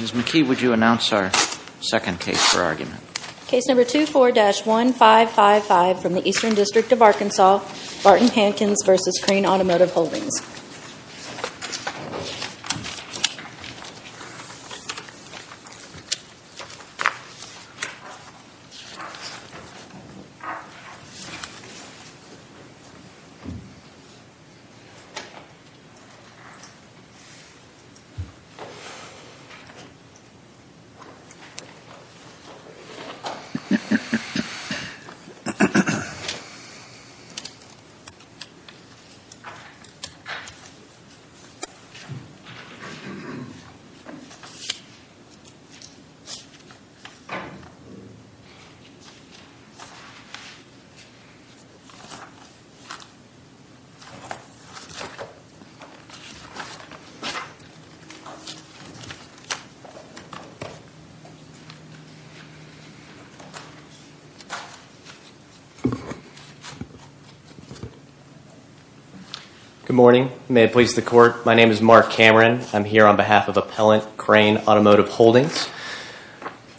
Ms. McKee, would you announce our second case for argument? Case number 24-1555 from the Eastern District of Arkansas, Barton Hankins v. Crain Automotive Holdings, LLC. Good morning. May it please the Court. My name is Mark Cameron. I'm here on behalf of Appellant Crain Automotive Holdings.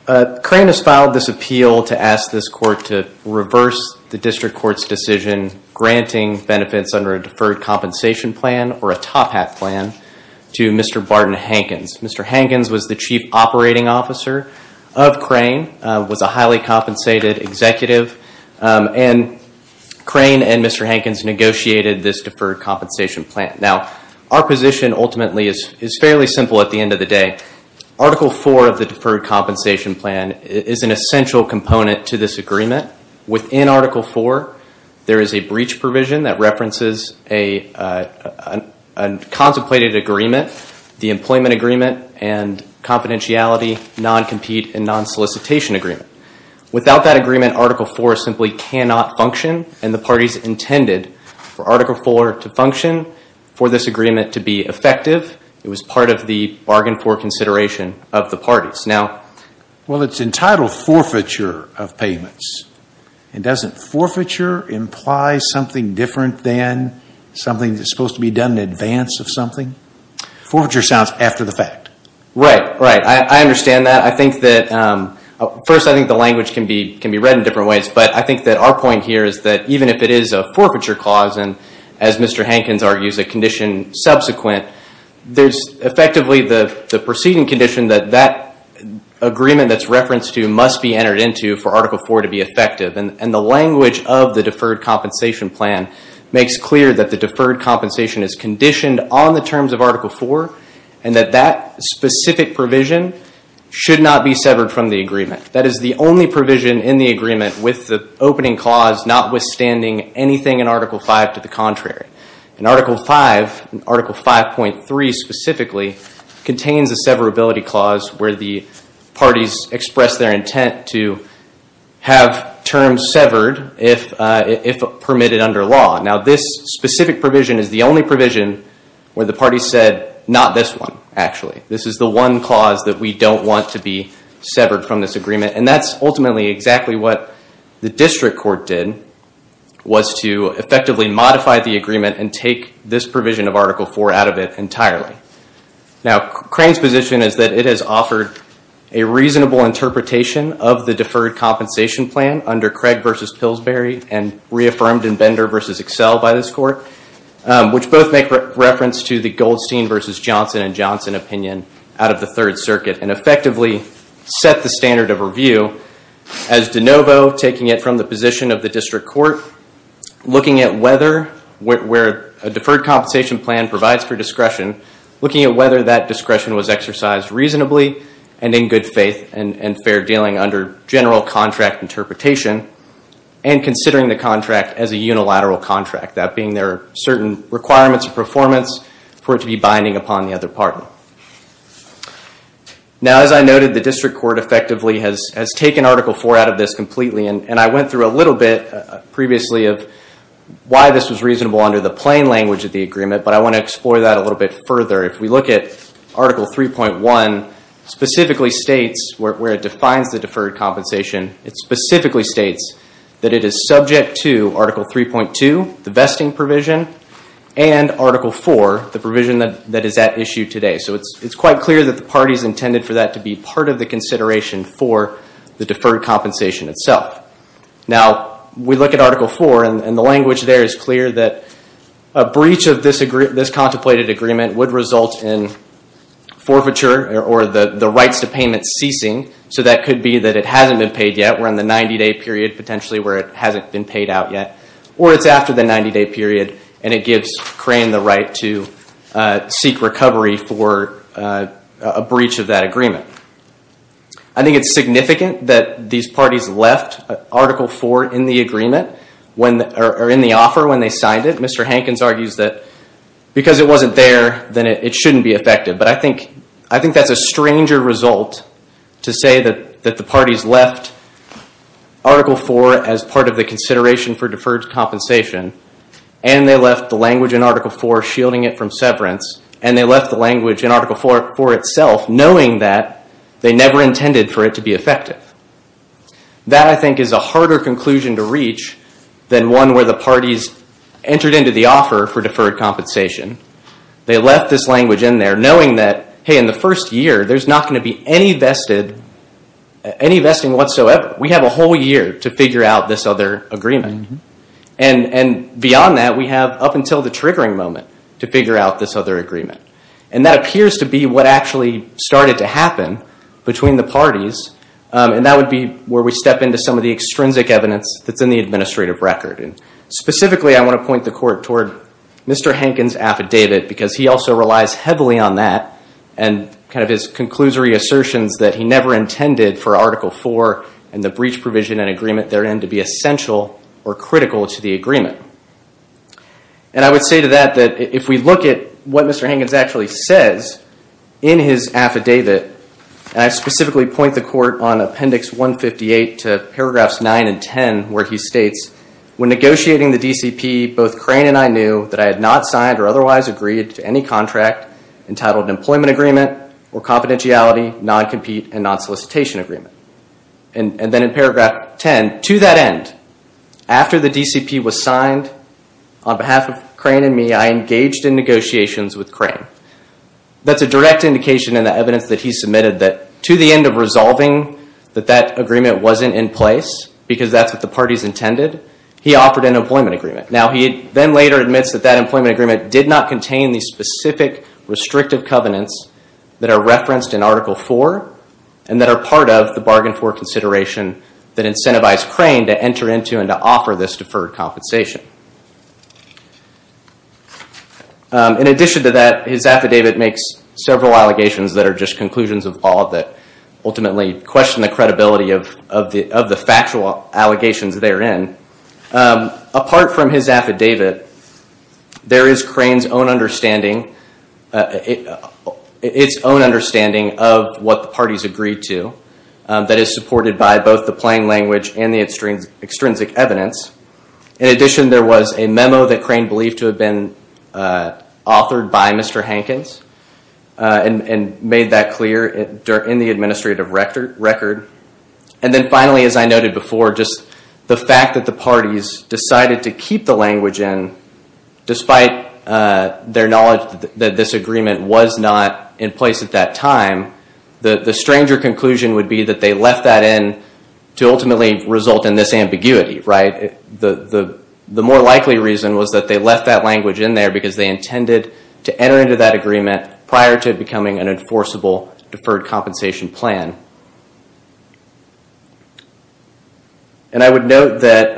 Crain has filed this appeal to ask this Court to reverse the District Court's decision granting benefits under a deferred compensation plan or a top hat plan to Mr. Barton Hankins. Mr. Hankins was the Chief Operating Officer of Crain, was a highly compensated executive, and Crain and Mr. Hankins negotiated this deferred compensation plan. Now, our position ultimately is fairly simple at the end of the day. Article 4 of the deferred compensation plan is an essential component to this agreement. Within Article 4, there is a breach provision that references a contemplated agreement, the employment agreement and confidentiality non-compete and non-solicitation agreement. Without that agreement, Article 4 simply cannot function and the parties intended for Article 4 to function, for this agreement to be effective, it was part of the bargain for consideration of the parties. Now... Well, it's entitled forfeiture of payments. And doesn't forfeiture imply something different than something that's supposed to be done in advance of something? Forfeiture sounds after-the-fact. Right. Right. I understand that. I think that... First, I think the language can be read in different ways, but I think that our point here is that even if it is a forfeiture clause, and as Mr. Hankins argues, a condition subsequent, there's effectively the proceeding condition that that agreement that's referenced to must be entered into for Article 4 to be effective. And the language of the deferred compensation plan makes clear that the deferred compensation is conditioned on the terms of Article 4, and that that specific provision should not be severed from the agreement. That is the only provision in the agreement with the opening clause notwithstanding anything in Article 5 to the contrary. And Article 5, Article 5.3 specifically, contains a severability clause where the parties express their intent to have terms severed if permitted under law. Now, this specific provision is the only provision where the parties said, not this one, actually. This is the one clause that we don't want to be severed from this agreement. And that's ultimately exactly what the district court did, was to effectively modify the agreement and take this provision of Article 4 out of it entirely. Now, Crane's position is that it has offered a reasonable interpretation of the deferred compensation plan under Craig versus Pillsbury and reaffirmed in Bender versus Excel by this court, which both make reference to the Goldstein versus Johnson and Johnson opinion out of the Third Circuit. And effectively set the standard of review as de novo, taking it from the position of the district court, looking at whether a deferred compensation plan provides for discretion, looking at whether that discretion was exercised reasonably and in good faith and fair dealing under general contract interpretation, and considering the contract as a unilateral contract, that being there are certain requirements of performance for it to be binding upon the other party. Now, as I noted, the district court effectively has taken Article 4 out of this completely. And I went through a little bit previously of why this was reasonable under the plain language of the agreement, but I want to explore that a little bit further. If we look at Article 3.1, specifically states where it defines the deferred compensation, it specifically states that it is subject to Article 3.2, the vesting provision, and Article 4, the provision that is at issue today. So it's quite clear that the parties intended for that to be part of the consideration for the deferred compensation itself. Now, we look at Article 4 and the language there is clear that a breach of this contemplated agreement would result in forfeiture or the rights to payment ceasing. So that could be that it hasn't been paid yet, we're in the 90-day period potentially where it hasn't been paid out yet, or it's after the 90-day period and it gives Crane the right to seek recovery for a breach of that agreement. I think it's significant that these parties left Article 4 in the agreement, or in the offer when they signed it. Mr. Hankins argues that because it wasn't there, then it shouldn't be effective. But I think that's a stranger result to say that the parties left Article 4 as part of the consideration for deferred compensation, and they left the language in Article 4 shielding it from severance, and they left the language in Article 4 itself knowing that they never intended for it to be effective. That, I think, is a harder conclusion to reach than one where the parties entered into the offer for deferred compensation. They left this language in there knowing that, hey, in the first year, there's not going to be any vesting whatsoever. We have a whole year to figure out this other agreement. Beyond that, we have up until the triggering moment to figure out this other agreement. That appears to be what actually started to happen between the parties, and that would be where we step into some of the extrinsic evidence that's in the administrative record. Specifically, I want to point the court toward Mr. Hankins' affidavit because he also relies heavily on that and his conclusory assertions that he never intended for Article 4 and the breach provision and agreement therein to be essential or critical to the agreement. I would say to that that if we look at what Mr. Hankins actually says in his affidavit, and I specifically point the court on Appendix 158 to paragraphs 9 and 10 where he states, when negotiating the DCP, both Crane and I knew that I had not signed or otherwise agreed to any contract entitled employment agreement or confidentiality, non-compete, and non-solicitation agreement. And then in paragraph 10, to that end, after the DCP was signed on behalf of Crane and me, I engaged in negotiations with Crane. That's a direct indication in the evidence that he submitted that to the end of resolving that that agreement wasn't in place because that's what the parties intended, he offered an employment agreement. Now, he then later admits that that employment agreement did not contain the specific restrictive covenants that are referenced in Article 4 and that are part of the bargain for consideration that incentivized Crane to enter into and to offer this deferred compensation. In addition to that, his affidavit makes several allegations that are just conclusions of all that ultimately question the credibility of the factual allegations therein. Apart from his affidavit, there is Crane's own understanding of what the parties agreed to that is supported by both the plain language and the extrinsic evidence. In addition, there was a memo that Crane believed to have been authored by Mr. Hankins and made that clear in the administrative record. And then finally, as I noted before, just the fact that the parties decided to keep the language in despite their knowledge that this agreement was not in place at that time, the stranger conclusion would be that they left that in to ultimately result in this ambiguity. The more likely reason was that they left that language in there because they intended to enter into that agreement prior to it becoming an enforceable deferred compensation plan. And I would note that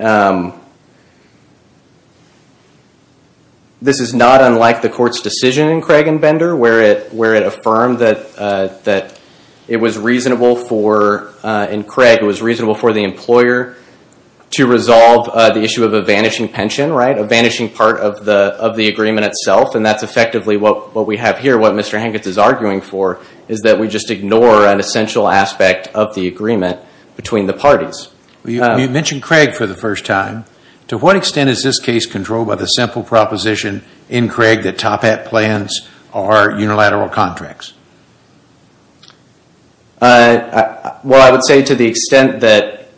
this is not unlike the court's decision in Craig and Bender where it affirmed that it was reasonable for the employer to resolve the issue of a vanishing pension, a vanishing part of the agreement itself. And that's effectively what we have here, what Mr. Hankins is arguing for, is that we just ignore an essential aspect of the agreement between the parties. You mentioned Craig for the first time. To what extent is this case controlled by the simple proposition in Craig that Toppat plans are unilateral contracts? Well, I would say to the extent that,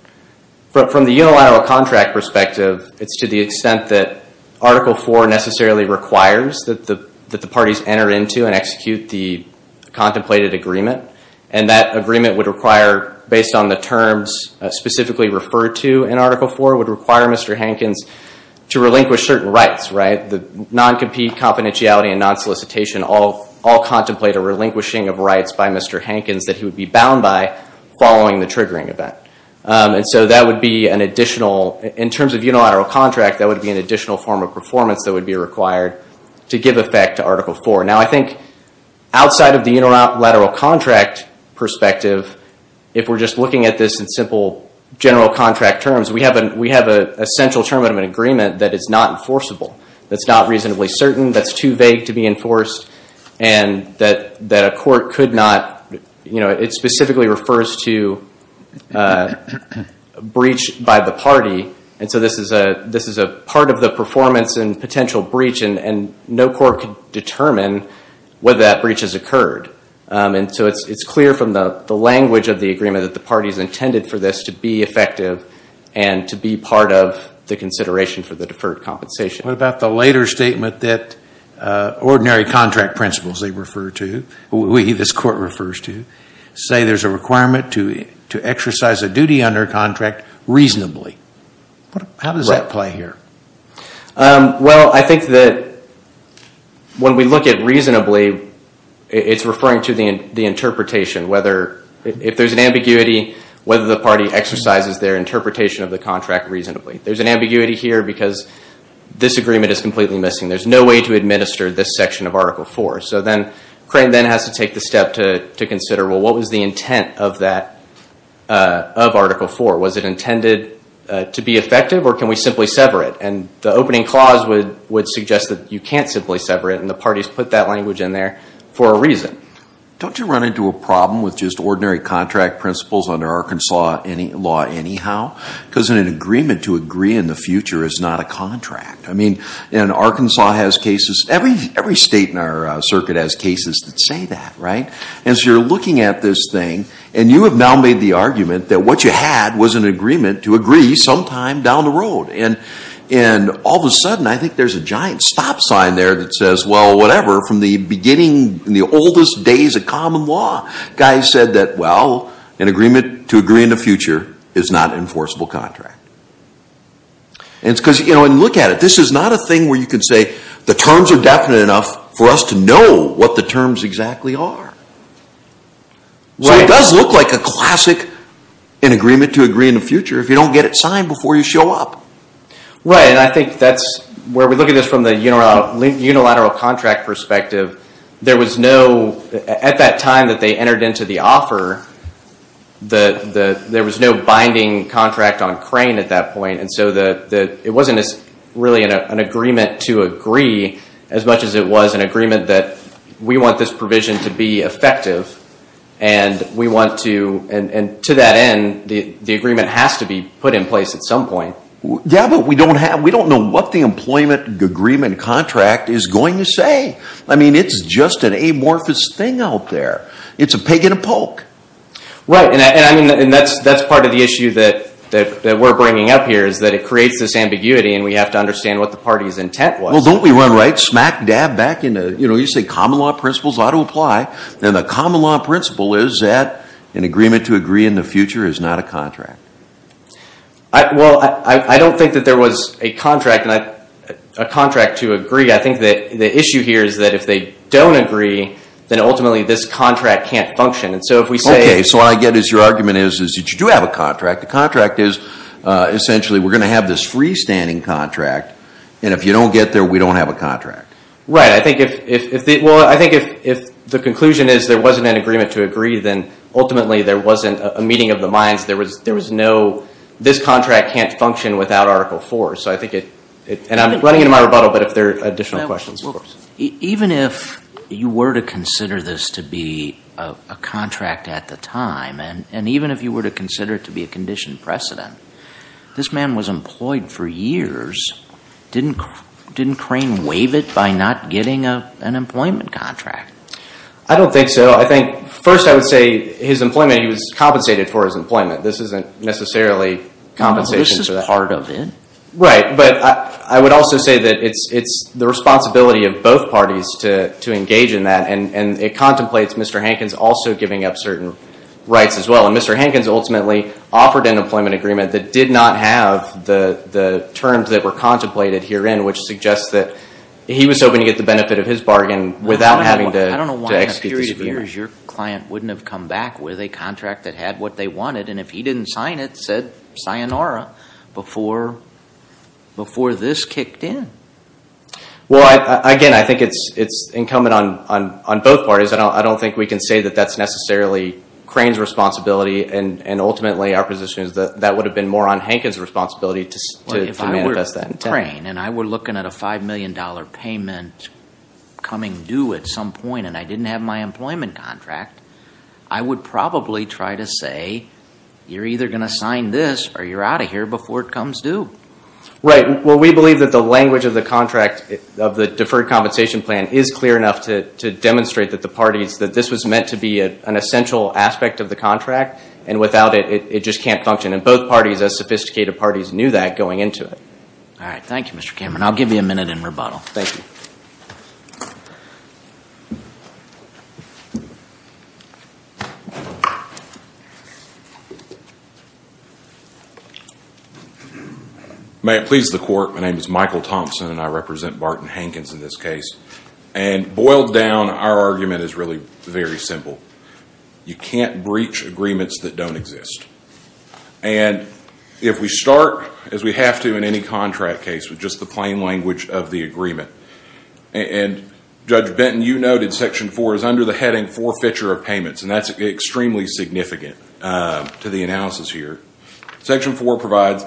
from the unilateral contract perspective, it's to the extent that Article IV necessarily requires that the parties enter into and execute the contemplated agreement. And that agreement would require, based on the terms specifically referred to in Article IV, would require Mr. Hankins to relinquish certain rights. The non-compete confidentiality and non-solicitation all contemplate a relinquishing of rights by Mr. Hankins that he would be bound by following the triggering event. And so that would be an additional, in terms of unilateral contract, that would be an additional form of performance that would be required to give effect to Article IV. Now, I think outside of the unilateral contract perspective, if we're just looking at this in simple general contract terms, we have an essential term of an agreement that is not enforceable, that's not reasonably certain, that's too vague to be enforced, and that a court could not, you know, it specifically refers to a breach by the party. And so this is a part of the performance and potential breach, and no court could determine whether that breach has occurred. And so it's clear from the language of the agreement that the party's intended for this to be effective and to be part of the consideration for the deferred compensation. What about the later statement that ordinary contract principles, they refer to, we, this court refers to, say there's a requirement to exercise a duty under contract reasonably? How does that play here? Well, I think that when we look at reasonably, it's referring to the interpretation, whether if there's an ambiguity, whether the party exercises their interpretation of the contract reasonably. There's an ambiguity here because this agreement is completely missing. There's no way to administer this section of Article IV. So then Crain then has to take the step to consider, well, what was the intent of that, of Article IV? Was it intended to be effective, or can we simply sever it? And the opening clause would suggest that you can't simply sever it, and the parties put that language in there for a reason. Don't you run into a problem with just ordinary contract principles under Arkansas law anyhow? Because an agreement to agree in the future is not a contract. I mean, and Arkansas has cases, every state in our circuit has cases that say that, right? And so you're looking at this thing, and you have now made the argument that what you had was an agreement to agree sometime down the road. And all of a sudden, I think there's a giant stop sign there that says, well, whatever, from the beginning, in the oldest days of common law, guys said that, well, an agreement to agree in the future is not an enforceable contract. And look at it, this is not a thing where you can say, the terms are definite enough for us to know what the terms exactly are. So it does look like a classic in agreement to agree in the future if you don't get it signed before you show up. Right, and I think that's where we look at this from the unilateral contract perspective. There was no, at that time that they entered into the offer, there was no binding contract on crane at that point. And so it wasn't really an agreement to agree as much as it was an agreement that we want this provision to be effective, and we want to, and to that end, the agreement has to be put in place at some point. Yeah, but we don't know what the employment agreement contract is going to say. I mean, it's just an amorphous thing out there. It's a pig and a poke. Right, and that's part of the issue that we're bringing up here, is that it creates this ambiguity, and we have to understand what the party's intent was. Well, don't we run right smack dab back into, you know, you say common law principles ought to apply, and the common law principle is that an agreement to agree in the future is not a contract. Well, I don't think that there was a contract to agree. I think the issue here is that if they don't agree, then ultimately this contract can't function. Okay, so what I get is your argument is that you do have a contract. The contract is essentially we're going to have this freestanding contract, and if you don't get there, we don't have a contract. Right. Well, I think if the conclusion is there wasn't an agreement to agree, then ultimately there wasn't a meeting of the minds. There was no this contract can't function without Article IV. So I think it, and I'm running into my rebuttal, but if there are additional questions. Even if you were to consider this to be a contract at the time, and even if you were to consider it to be a conditioned precedent, this man was employed for years. Didn't Crane waive it by not getting an employment contract? I don't think so. I think first I would say his employment, he was compensated for his employment. This isn't necessarily compensation. This is part of it. Right. But I would also say that it's the responsibility of both parties to engage in that, and it contemplates Mr. Hankins also giving up certain rights as well. And Mr. Hankins ultimately offered an employment agreement that did not have the terms that were contemplated herein, which suggests that he was hoping to get the benefit of his bargain without having to execute this agreement. I don't know why in a period of years your client wouldn't have come back with a contract that had what they wanted, and if he didn't sign it, said sayonara before this kicked in. Well, again, I think it's incumbent on both parties. I don't think we can say that that's necessarily Crane's responsibility, and ultimately our position is that that would have been more on Hankins' responsibility to manifest that. If I were Crane and I were looking at a $5 million payment coming due at some point and I didn't have my employment contract, I would probably try to say you're either going to sign this or you're out of here before it comes due. Right. Well, we believe that the language of the contract, of the deferred compensation plan, is clear enough to demonstrate that this was meant to be an essential aspect of the contract, and without it, it just can't function. And both parties, as sophisticated parties, knew that going into it. All right. Thank you, Mr. Cameron. I'll give you a minute in rebuttal. Thank you. May it please the Court. My name is Michael Thompson, and I represent Barton Hankins in this case. And boiled down, our argument is really very simple. You can't breach agreements that don't exist. And if we start, as we have to in any contract case, with just the plain language of the agreement, and Judge Benton, you noted Section 4 is under the heading forfeiture of payments, and that's extremely significant to the analysis here. Section 4 provides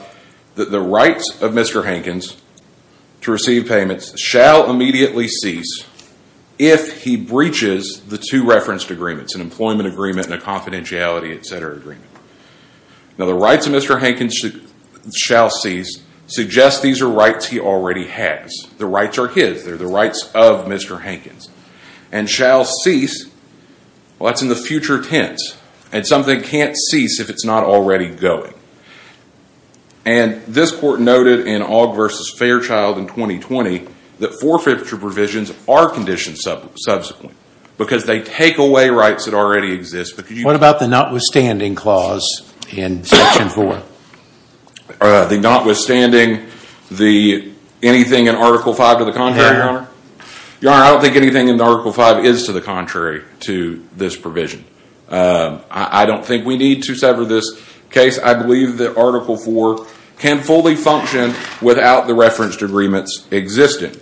that the rights of Mr. Hankins to receive payments shall immediately cease if he breaches the two referenced agreements, an employment agreement and a confidentiality, et cetera, agreement. Now, the rights of Mr. Hankins shall cease suggests these are rights he already has. The rights are his. They're the rights of Mr. Hankins. And shall cease, well, that's in the future tense. And something can't cease if it's not already going. And this Court noted in Ogg v. Fairchild in 2020 that forfeiture provisions are conditioned subsequently because they take away rights that already exist. What about the notwithstanding clause in Section 4? The notwithstanding the anything in Article 5 to the contrary, Your Honor? Your Honor, I don't think anything in Article 5 is to the contrary to this provision. I don't think we need to sever this case. I believe that Article 4 can fully function without the referenced agreements existing.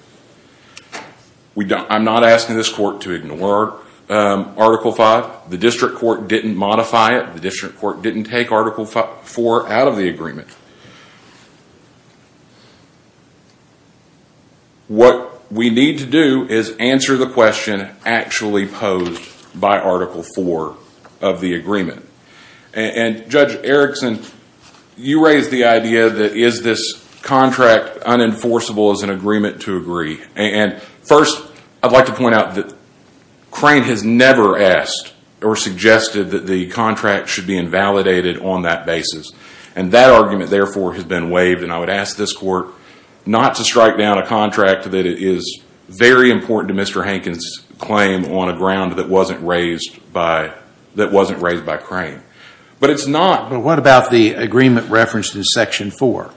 I'm not asking this Court to ignore Article 5. The district court didn't modify it. The district court didn't take Article 4 out of the agreement. What we need to do is answer the question actually posed by Article 4 of the agreement. And Judge Erickson, you raised the idea that is this contract unenforceable as an agreement to agree? And first, I'd like to point out that Crane has never asked or suggested that the contract should be invalidated on that basis. And that argument, therefore, has been waived. And I would ask this Court not to strike down a contract that is very important to Mr. Hankins' claim on a ground that wasn't raised by Crane. But it's not... But what about the agreement referenced in Section 4?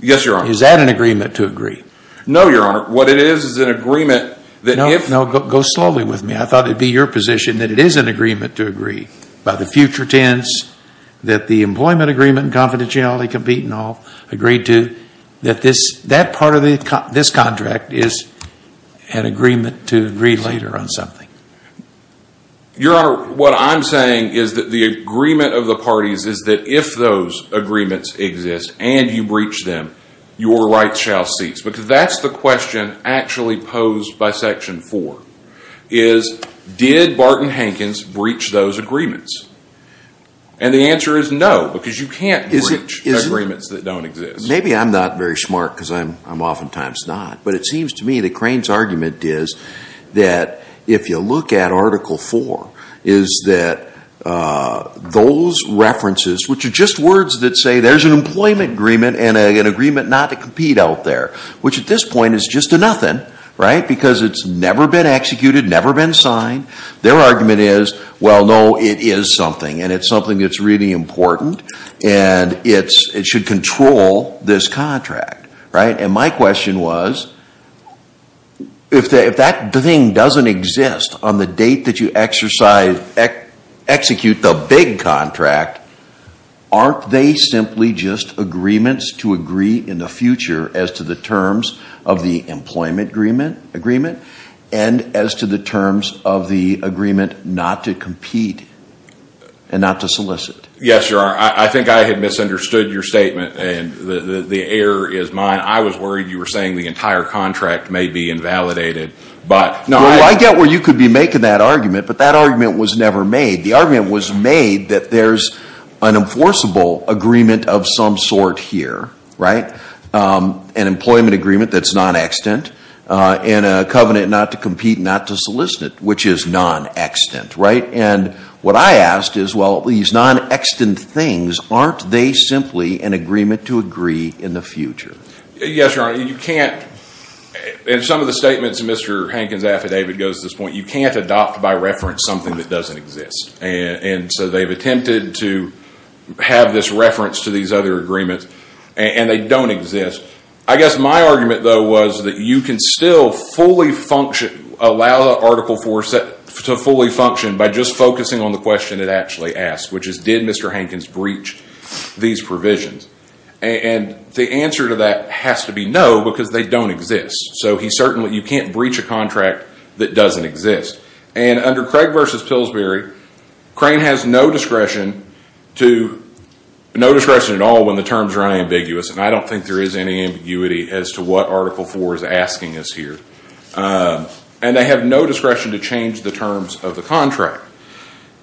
Yes, Your Honor. Is that an agreement to agree? No, Your Honor. What it is is an agreement that if... No, no. Go slowly with me. I thought it would be your position that it is an agreement to agree. By the future tense, that the employment agreement, confidentiality, compete and all, agreed to, that part of this contract is an agreement to agree later on something. Your Honor, what I'm saying is that the agreement of the parties is that if those agreements exist and you breach them, your rights shall cease. Because that's the question actually posed by Section 4, is did Barton Hankins breach those agreements? And the answer is no, because you can't breach agreements that don't exist. Maybe I'm not very smart because I'm oftentimes not. But it seems to me that Crane's argument is that if you look at Article 4, is that those references, which are just words that say there's an employment agreement and an agreement not to compete out there, which at this point is just a nothing, right? Because it's never been executed, never been signed. Their argument is, well, no, it is something and it's something that's really important and it should control this contract, right? And my question was, if that thing doesn't exist on the date that you execute the big contract, aren't they simply just agreements to agree in the future as to the terms of the employment agreement and as to the terms of the agreement not to compete and not to solicit? Yes, you are. I think I had misunderstood your statement and the error is mine. I was worried you were saying the entire contract may be invalidated. Well, I get where you could be making that argument, but that argument was never made. The argument was made that there's an enforceable agreement of some sort here, right? An employment agreement that's non-extant and a covenant not to compete, not to solicit, which is non-extant, right? And what I asked is, well, these non-extant things, aren't they simply an agreement to agree in the future? Yes, Your Honor. You can't, in some of the statements Mr. Hankins' affidavit goes to this point, you can't adopt by reference something that doesn't exist. And so they've attempted to have this reference to these other agreements and they don't exist. I guess my argument, though, was that you can still fully function, allow Article IV to fully function by just focusing on the question it actually asks, which is, did Mr. Hankins breach these provisions? And the answer to that has to be no, because they don't exist. So you can't breach a contract that doesn't exist. And under Craig v. Pillsbury, Crane has no discretion at all when the terms are unambiguous, and I don't think there is any ambiguity as to what Article IV is asking us here. And they have no discretion to change the terms of the contract.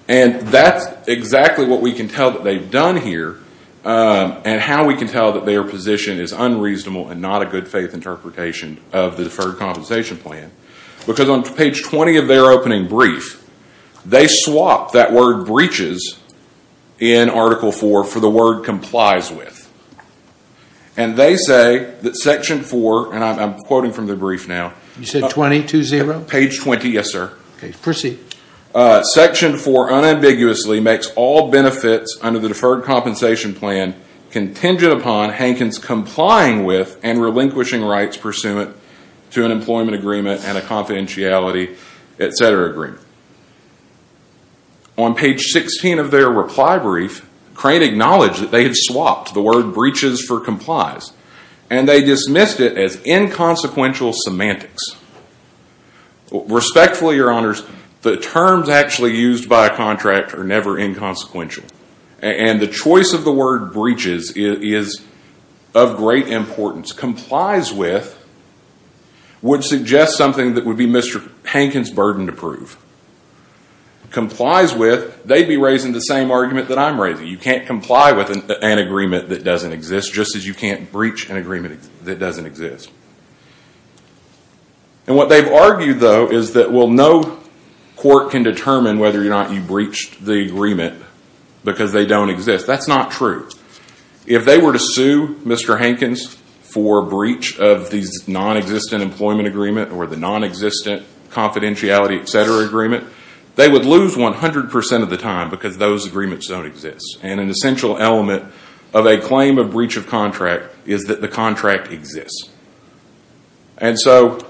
And that's exactly what we can tell that they've done here and how we can tell that their position is unreasonable and not a good faith interpretation of the Deferred Compensation Plan. Because on page 20 of their opening brief, they swap that word breaches in Article IV for the word complies with. And they say that Section IV, and I'm quoting from the brief now. You said 20, 2-0? Page 20, yes, sir. Okay, proceed. Section IV unambiguously makes all benefits under the Deferred Compensation Plan contingent upon Hankins complying with and relinquishing rights pursuant to an employment agreement and a confidentiality, etc. agreement. On page 16 of their reply brief, Crane acknowledged that they had swapped the word breaches for complies. And they dismissed it as inconsequential semantics. Respectfully, your honors, the terms actually used by a contract are never inconsequential. And the choice of the word breaches is of great importance. Complies with would suggest something that would be Mr. Hankins' burden to prove. Complies with, they'd be raising the same argument that I'm raising. You can't comply with an agreement that doesn't exist just as you can't breach an agreement that doesn't exist. And what they've argued, though, is that no court can determine whether or not you breached the agreement because they don't exist. That's not true. If they were to sue Mr. Hankins for breach of the non-existent employment agreement or the non-existent confidentiality, etc. agreement, they would lose 100% of the time because those agreements don't exist. And an essential element of a claim of breach of contract is that the contract exists. And so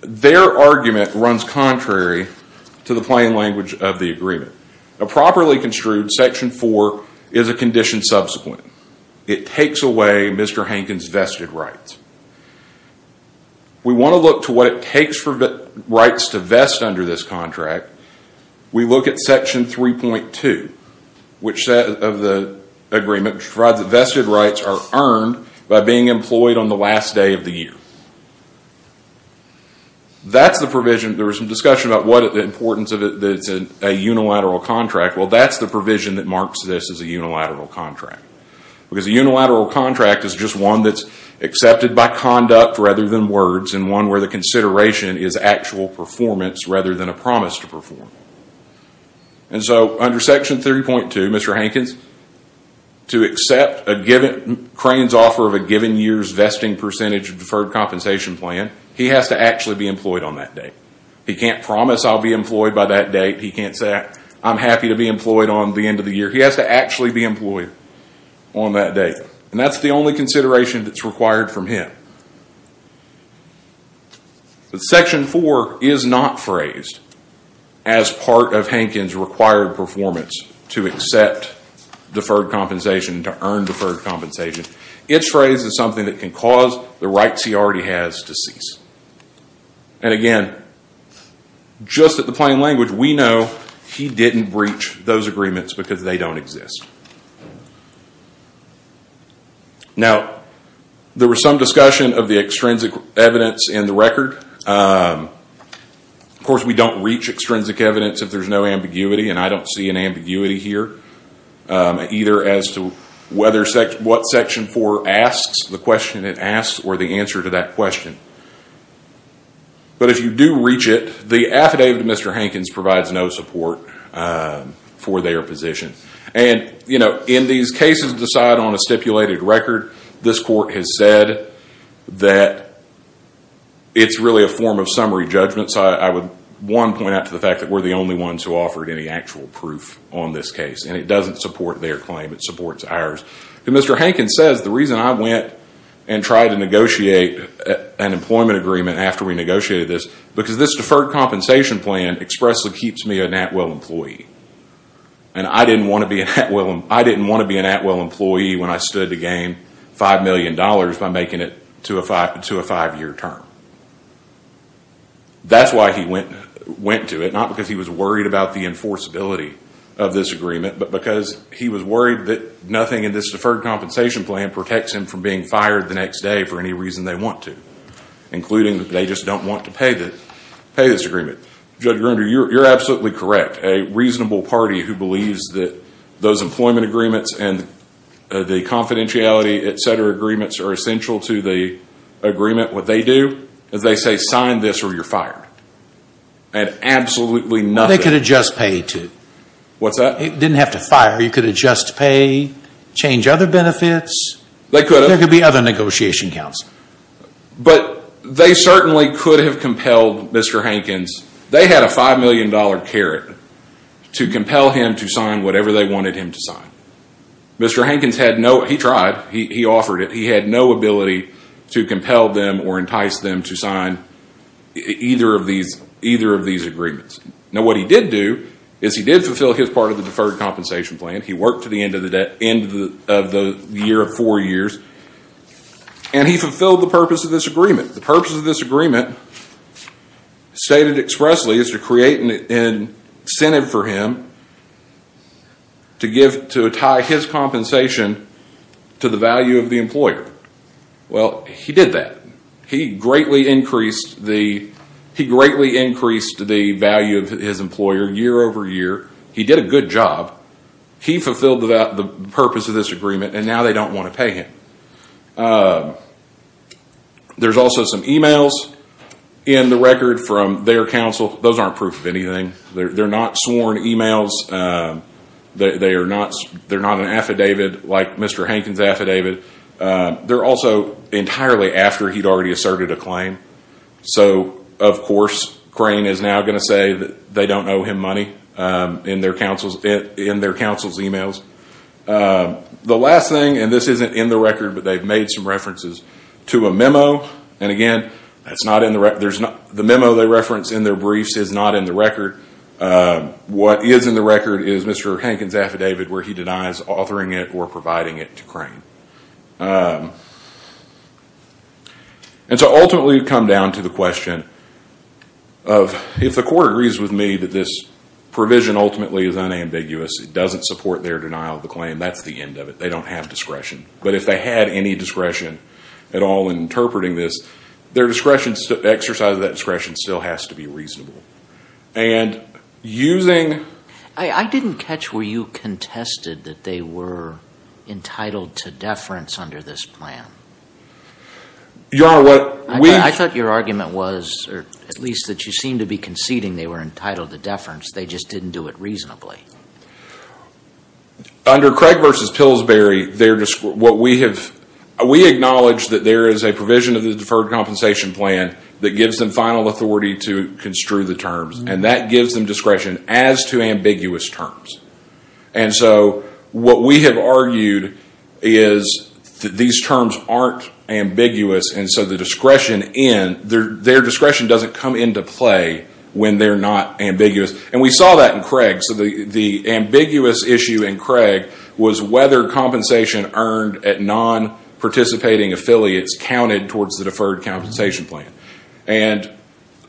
their argument runs contrary to the plain language of the agreement. Properly construed, Section 4 is a condition subsequent. It takes away Mr. Hankins' vested rights. We want to look to what it takes for rights to vest under this contract. We look at Section 3.2 of the agreement, which provides that vested rights are earned by being employed on the last day of the year. That's the provision. There was some discussion about the importance of a unilateral contract. Well, that's the provision that marks this as a unilateral contract. Because a unilateral contract is just one that's accepted by conduct rather than words and one where the consideration is actual performance rather than a promise to perform. And so under Section 3.2, Mr. Hankins, to accept Crane's offer of a given year's vesting percentage of deferred compensation plan, he has to actually be employed on that date. He can't promise I'll be employed by that date. He can't say I'm happy to be employed on the end of the year. He has to actually be employed on that date. And that's the only consideration that's required from him. But Section 4 is not phrased as part of Hankins' required performance to accept deferred compensation, to earn deferred compensation. It's phrased as something that can cause the rights he already has to cease. And again, just at the plain language, we know he didn't breach those agreements because they don't exist. Now, there was some discussion of the extrinsic evidence in the record. Of course, we don't reach extrinsic evidence if there's no ambiguity, and I don't see an ambiguity here, either as to what Section 4 asks, the question it asks, or the answer to that question. But if you do reach it, the affidavit of Mr. Hankins provides no support for their position. And, you know, in these cases decided on a stipulated record, this court has said that it's really a form of summary judgment. So I would, one, point out to the fact that we're the only ones who offered any actual proof on this case. And it doesn't support their claim, it supports ours. And Mr. Hankins says the reason I went and tried to negotiate an employment agreement after we negotiated this, because this deferred compensation plan expressly keeps me a NATWELL employee. And I didn't want to be a NATWELL employee when I stood to gain $5 million by making it to a five-year term. That's why he went to it, not because he was worried about the enforceability of this agreement, but because he was worried that nothing in this deferred compensation plan protects him from being fired the next day for any reason they want to, including that they just don't want to pay this agreement. Judge Grunder, you're absolutely correct. A reasonable party who believes that those employment agreements and the confidentiality, et cetera, agreements are essential to the agreement, what they do is they say sign this or you're fired. And absolutely nothing. They could adjust pay, too. What's that? It didn't have to fire. You could adjust pay, change other benefits. They could have. There could be other negotiation counts. But they certainly could have compelled Mr. Hankins. They had a $5 million carrot to compel him to sign whatever they wanted him to sign. Mr. Hankins tried. He offered it. He had no ability to compel them or entice them to sign either of these agreements. Now, what he did do is he did fulfill his part of the deferred compensation plan. He worked to the end of the year of four years. And he fulfilled the purpose of this agreement. The purpose of this agreement stated expressly is to create an incentive for him to tie his compensation to the value of the employer. Well, he did that. He greatly increased the value of his employer year over year. He did a good job. He fulfilled the purpose of this agreement, and now they don't want to pay him. There's also some emails in the record from their counsel. Those aren't proof of anything. They're not sworn emails. They're not an affidavit like Mr. Hankins' affidavit. They're also entirely after he'd already asserted a claim. So, of course, Crane is now going to say that they don't owe him money in their counsel's emails. The last thing, and this isn't in the record, but they've made some references to a memo. And again, the memo they reference in their briefs is not in the record. What is in the record is Mr. Hankins' affidavit where he denies authoring it or providing it to Crane. And so ultimately it would come down to the question of if the court agrees with me that this provision ultimately is unambiguous, it doesn't support their denial of the claim, that's the end of it. They don't have discretion. But if they had any discretion at all in interpreting this, their exercise of that discretion still has to be reasonable. And using... I didn't catch where you contested that they were entitled to deference under this plan. Your Honor, what we... I thought your argument was, or at least that you seemed to be conceding they were entitled to deference. They just didn't do it reasonably. Under Craig v. Pillsbury, what we have... We acknowledge that there is a provision of the Deferred Compensation Plan that gives them final authority to construe the terms. And that gives them discretion as to ambiguous terms. And so what we have argued is that these terms aren't ambiguous, and so their discretion doesn't come into play when they're not ambiguous. And we saw that in Craig. So the ambiguous issue in Craig was whether compensation earned at non-participating affiliates counted towards the Deferred Compensation Plan. And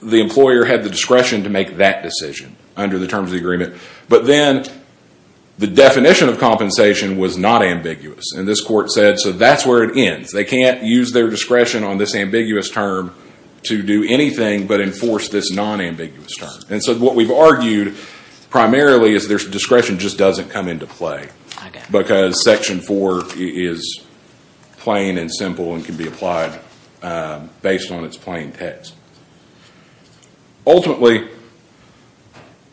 the employer had the discretion to make that decision under the terms of the agreement. But then the definition of compensation was not ambiguous. And this court said, so that's where it ends. They can't use their discretion on this ambiguous term to do anything but enforce this non-ambiguous term. And so what we've argued primarily is their discretion just doesn't come into play. Because Section 4 is plain and simple and can be applied based on its plain text. Ultimately,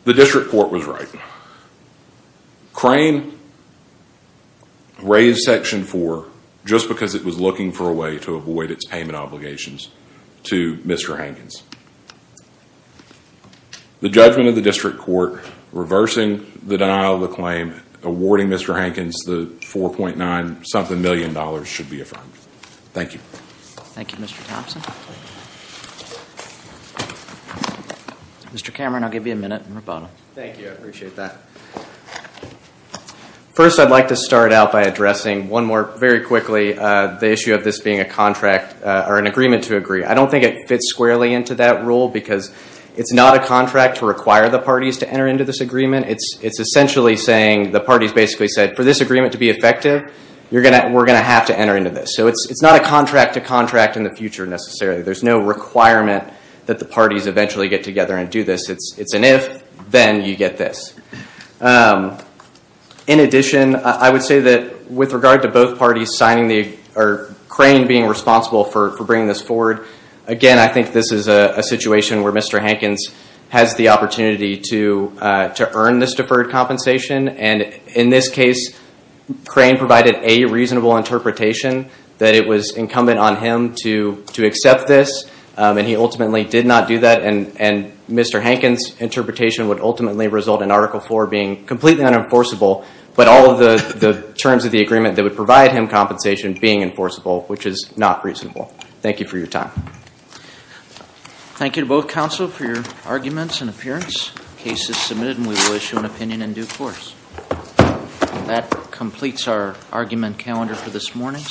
the district court was right. Crane raised Section 4 just because it was looking for a way to avoid its payment obligations to Mr. Hankins. The judgment of the district court reversing the denial of the claim, awarding Mr. Hankins the $4.9-something million should be affirmed. Thank you. Thank you, Mr. Thompson. Mr. Cameron, I'll give you a minute and rebuttal. Thank you. I appreciate that. First, I'd like to start out by addressing one more very quickly, the issue of this being a contract or an agreement to agree. I don't think it fits squarely into that rule because it's not a contract to require the parties to enter into this agreement. It's essentially saying the parties basically said, for this agreement to be effective, we're going to have to enter into this. So it's not a contract to contract in the future necessarily. There's no requirement that the parties eventually get together and do this. It's an if, then you get this. In addition, I would say that with regard to both parties, Crane being responsible for bringing this forward, again, I think this is a situation where Mr. Hankins has the opportunity to earn this deferred compensation. In this case, Crane provided a reasonable interpretation that it was incumbent on him to accept this, and he ultimately did not do that. And Mr. Hankins' interpretation would ultimately result in Article IV being completely unenforceable, but all of the terms of the agreement that would provide him compensation being enforceable, which is not reasonable. Thank you for your time. Thank you to both counsel for your arguments and appearance. The case is submitted, and we will issue an opinion in due course. That completes our argument calendar for this morning.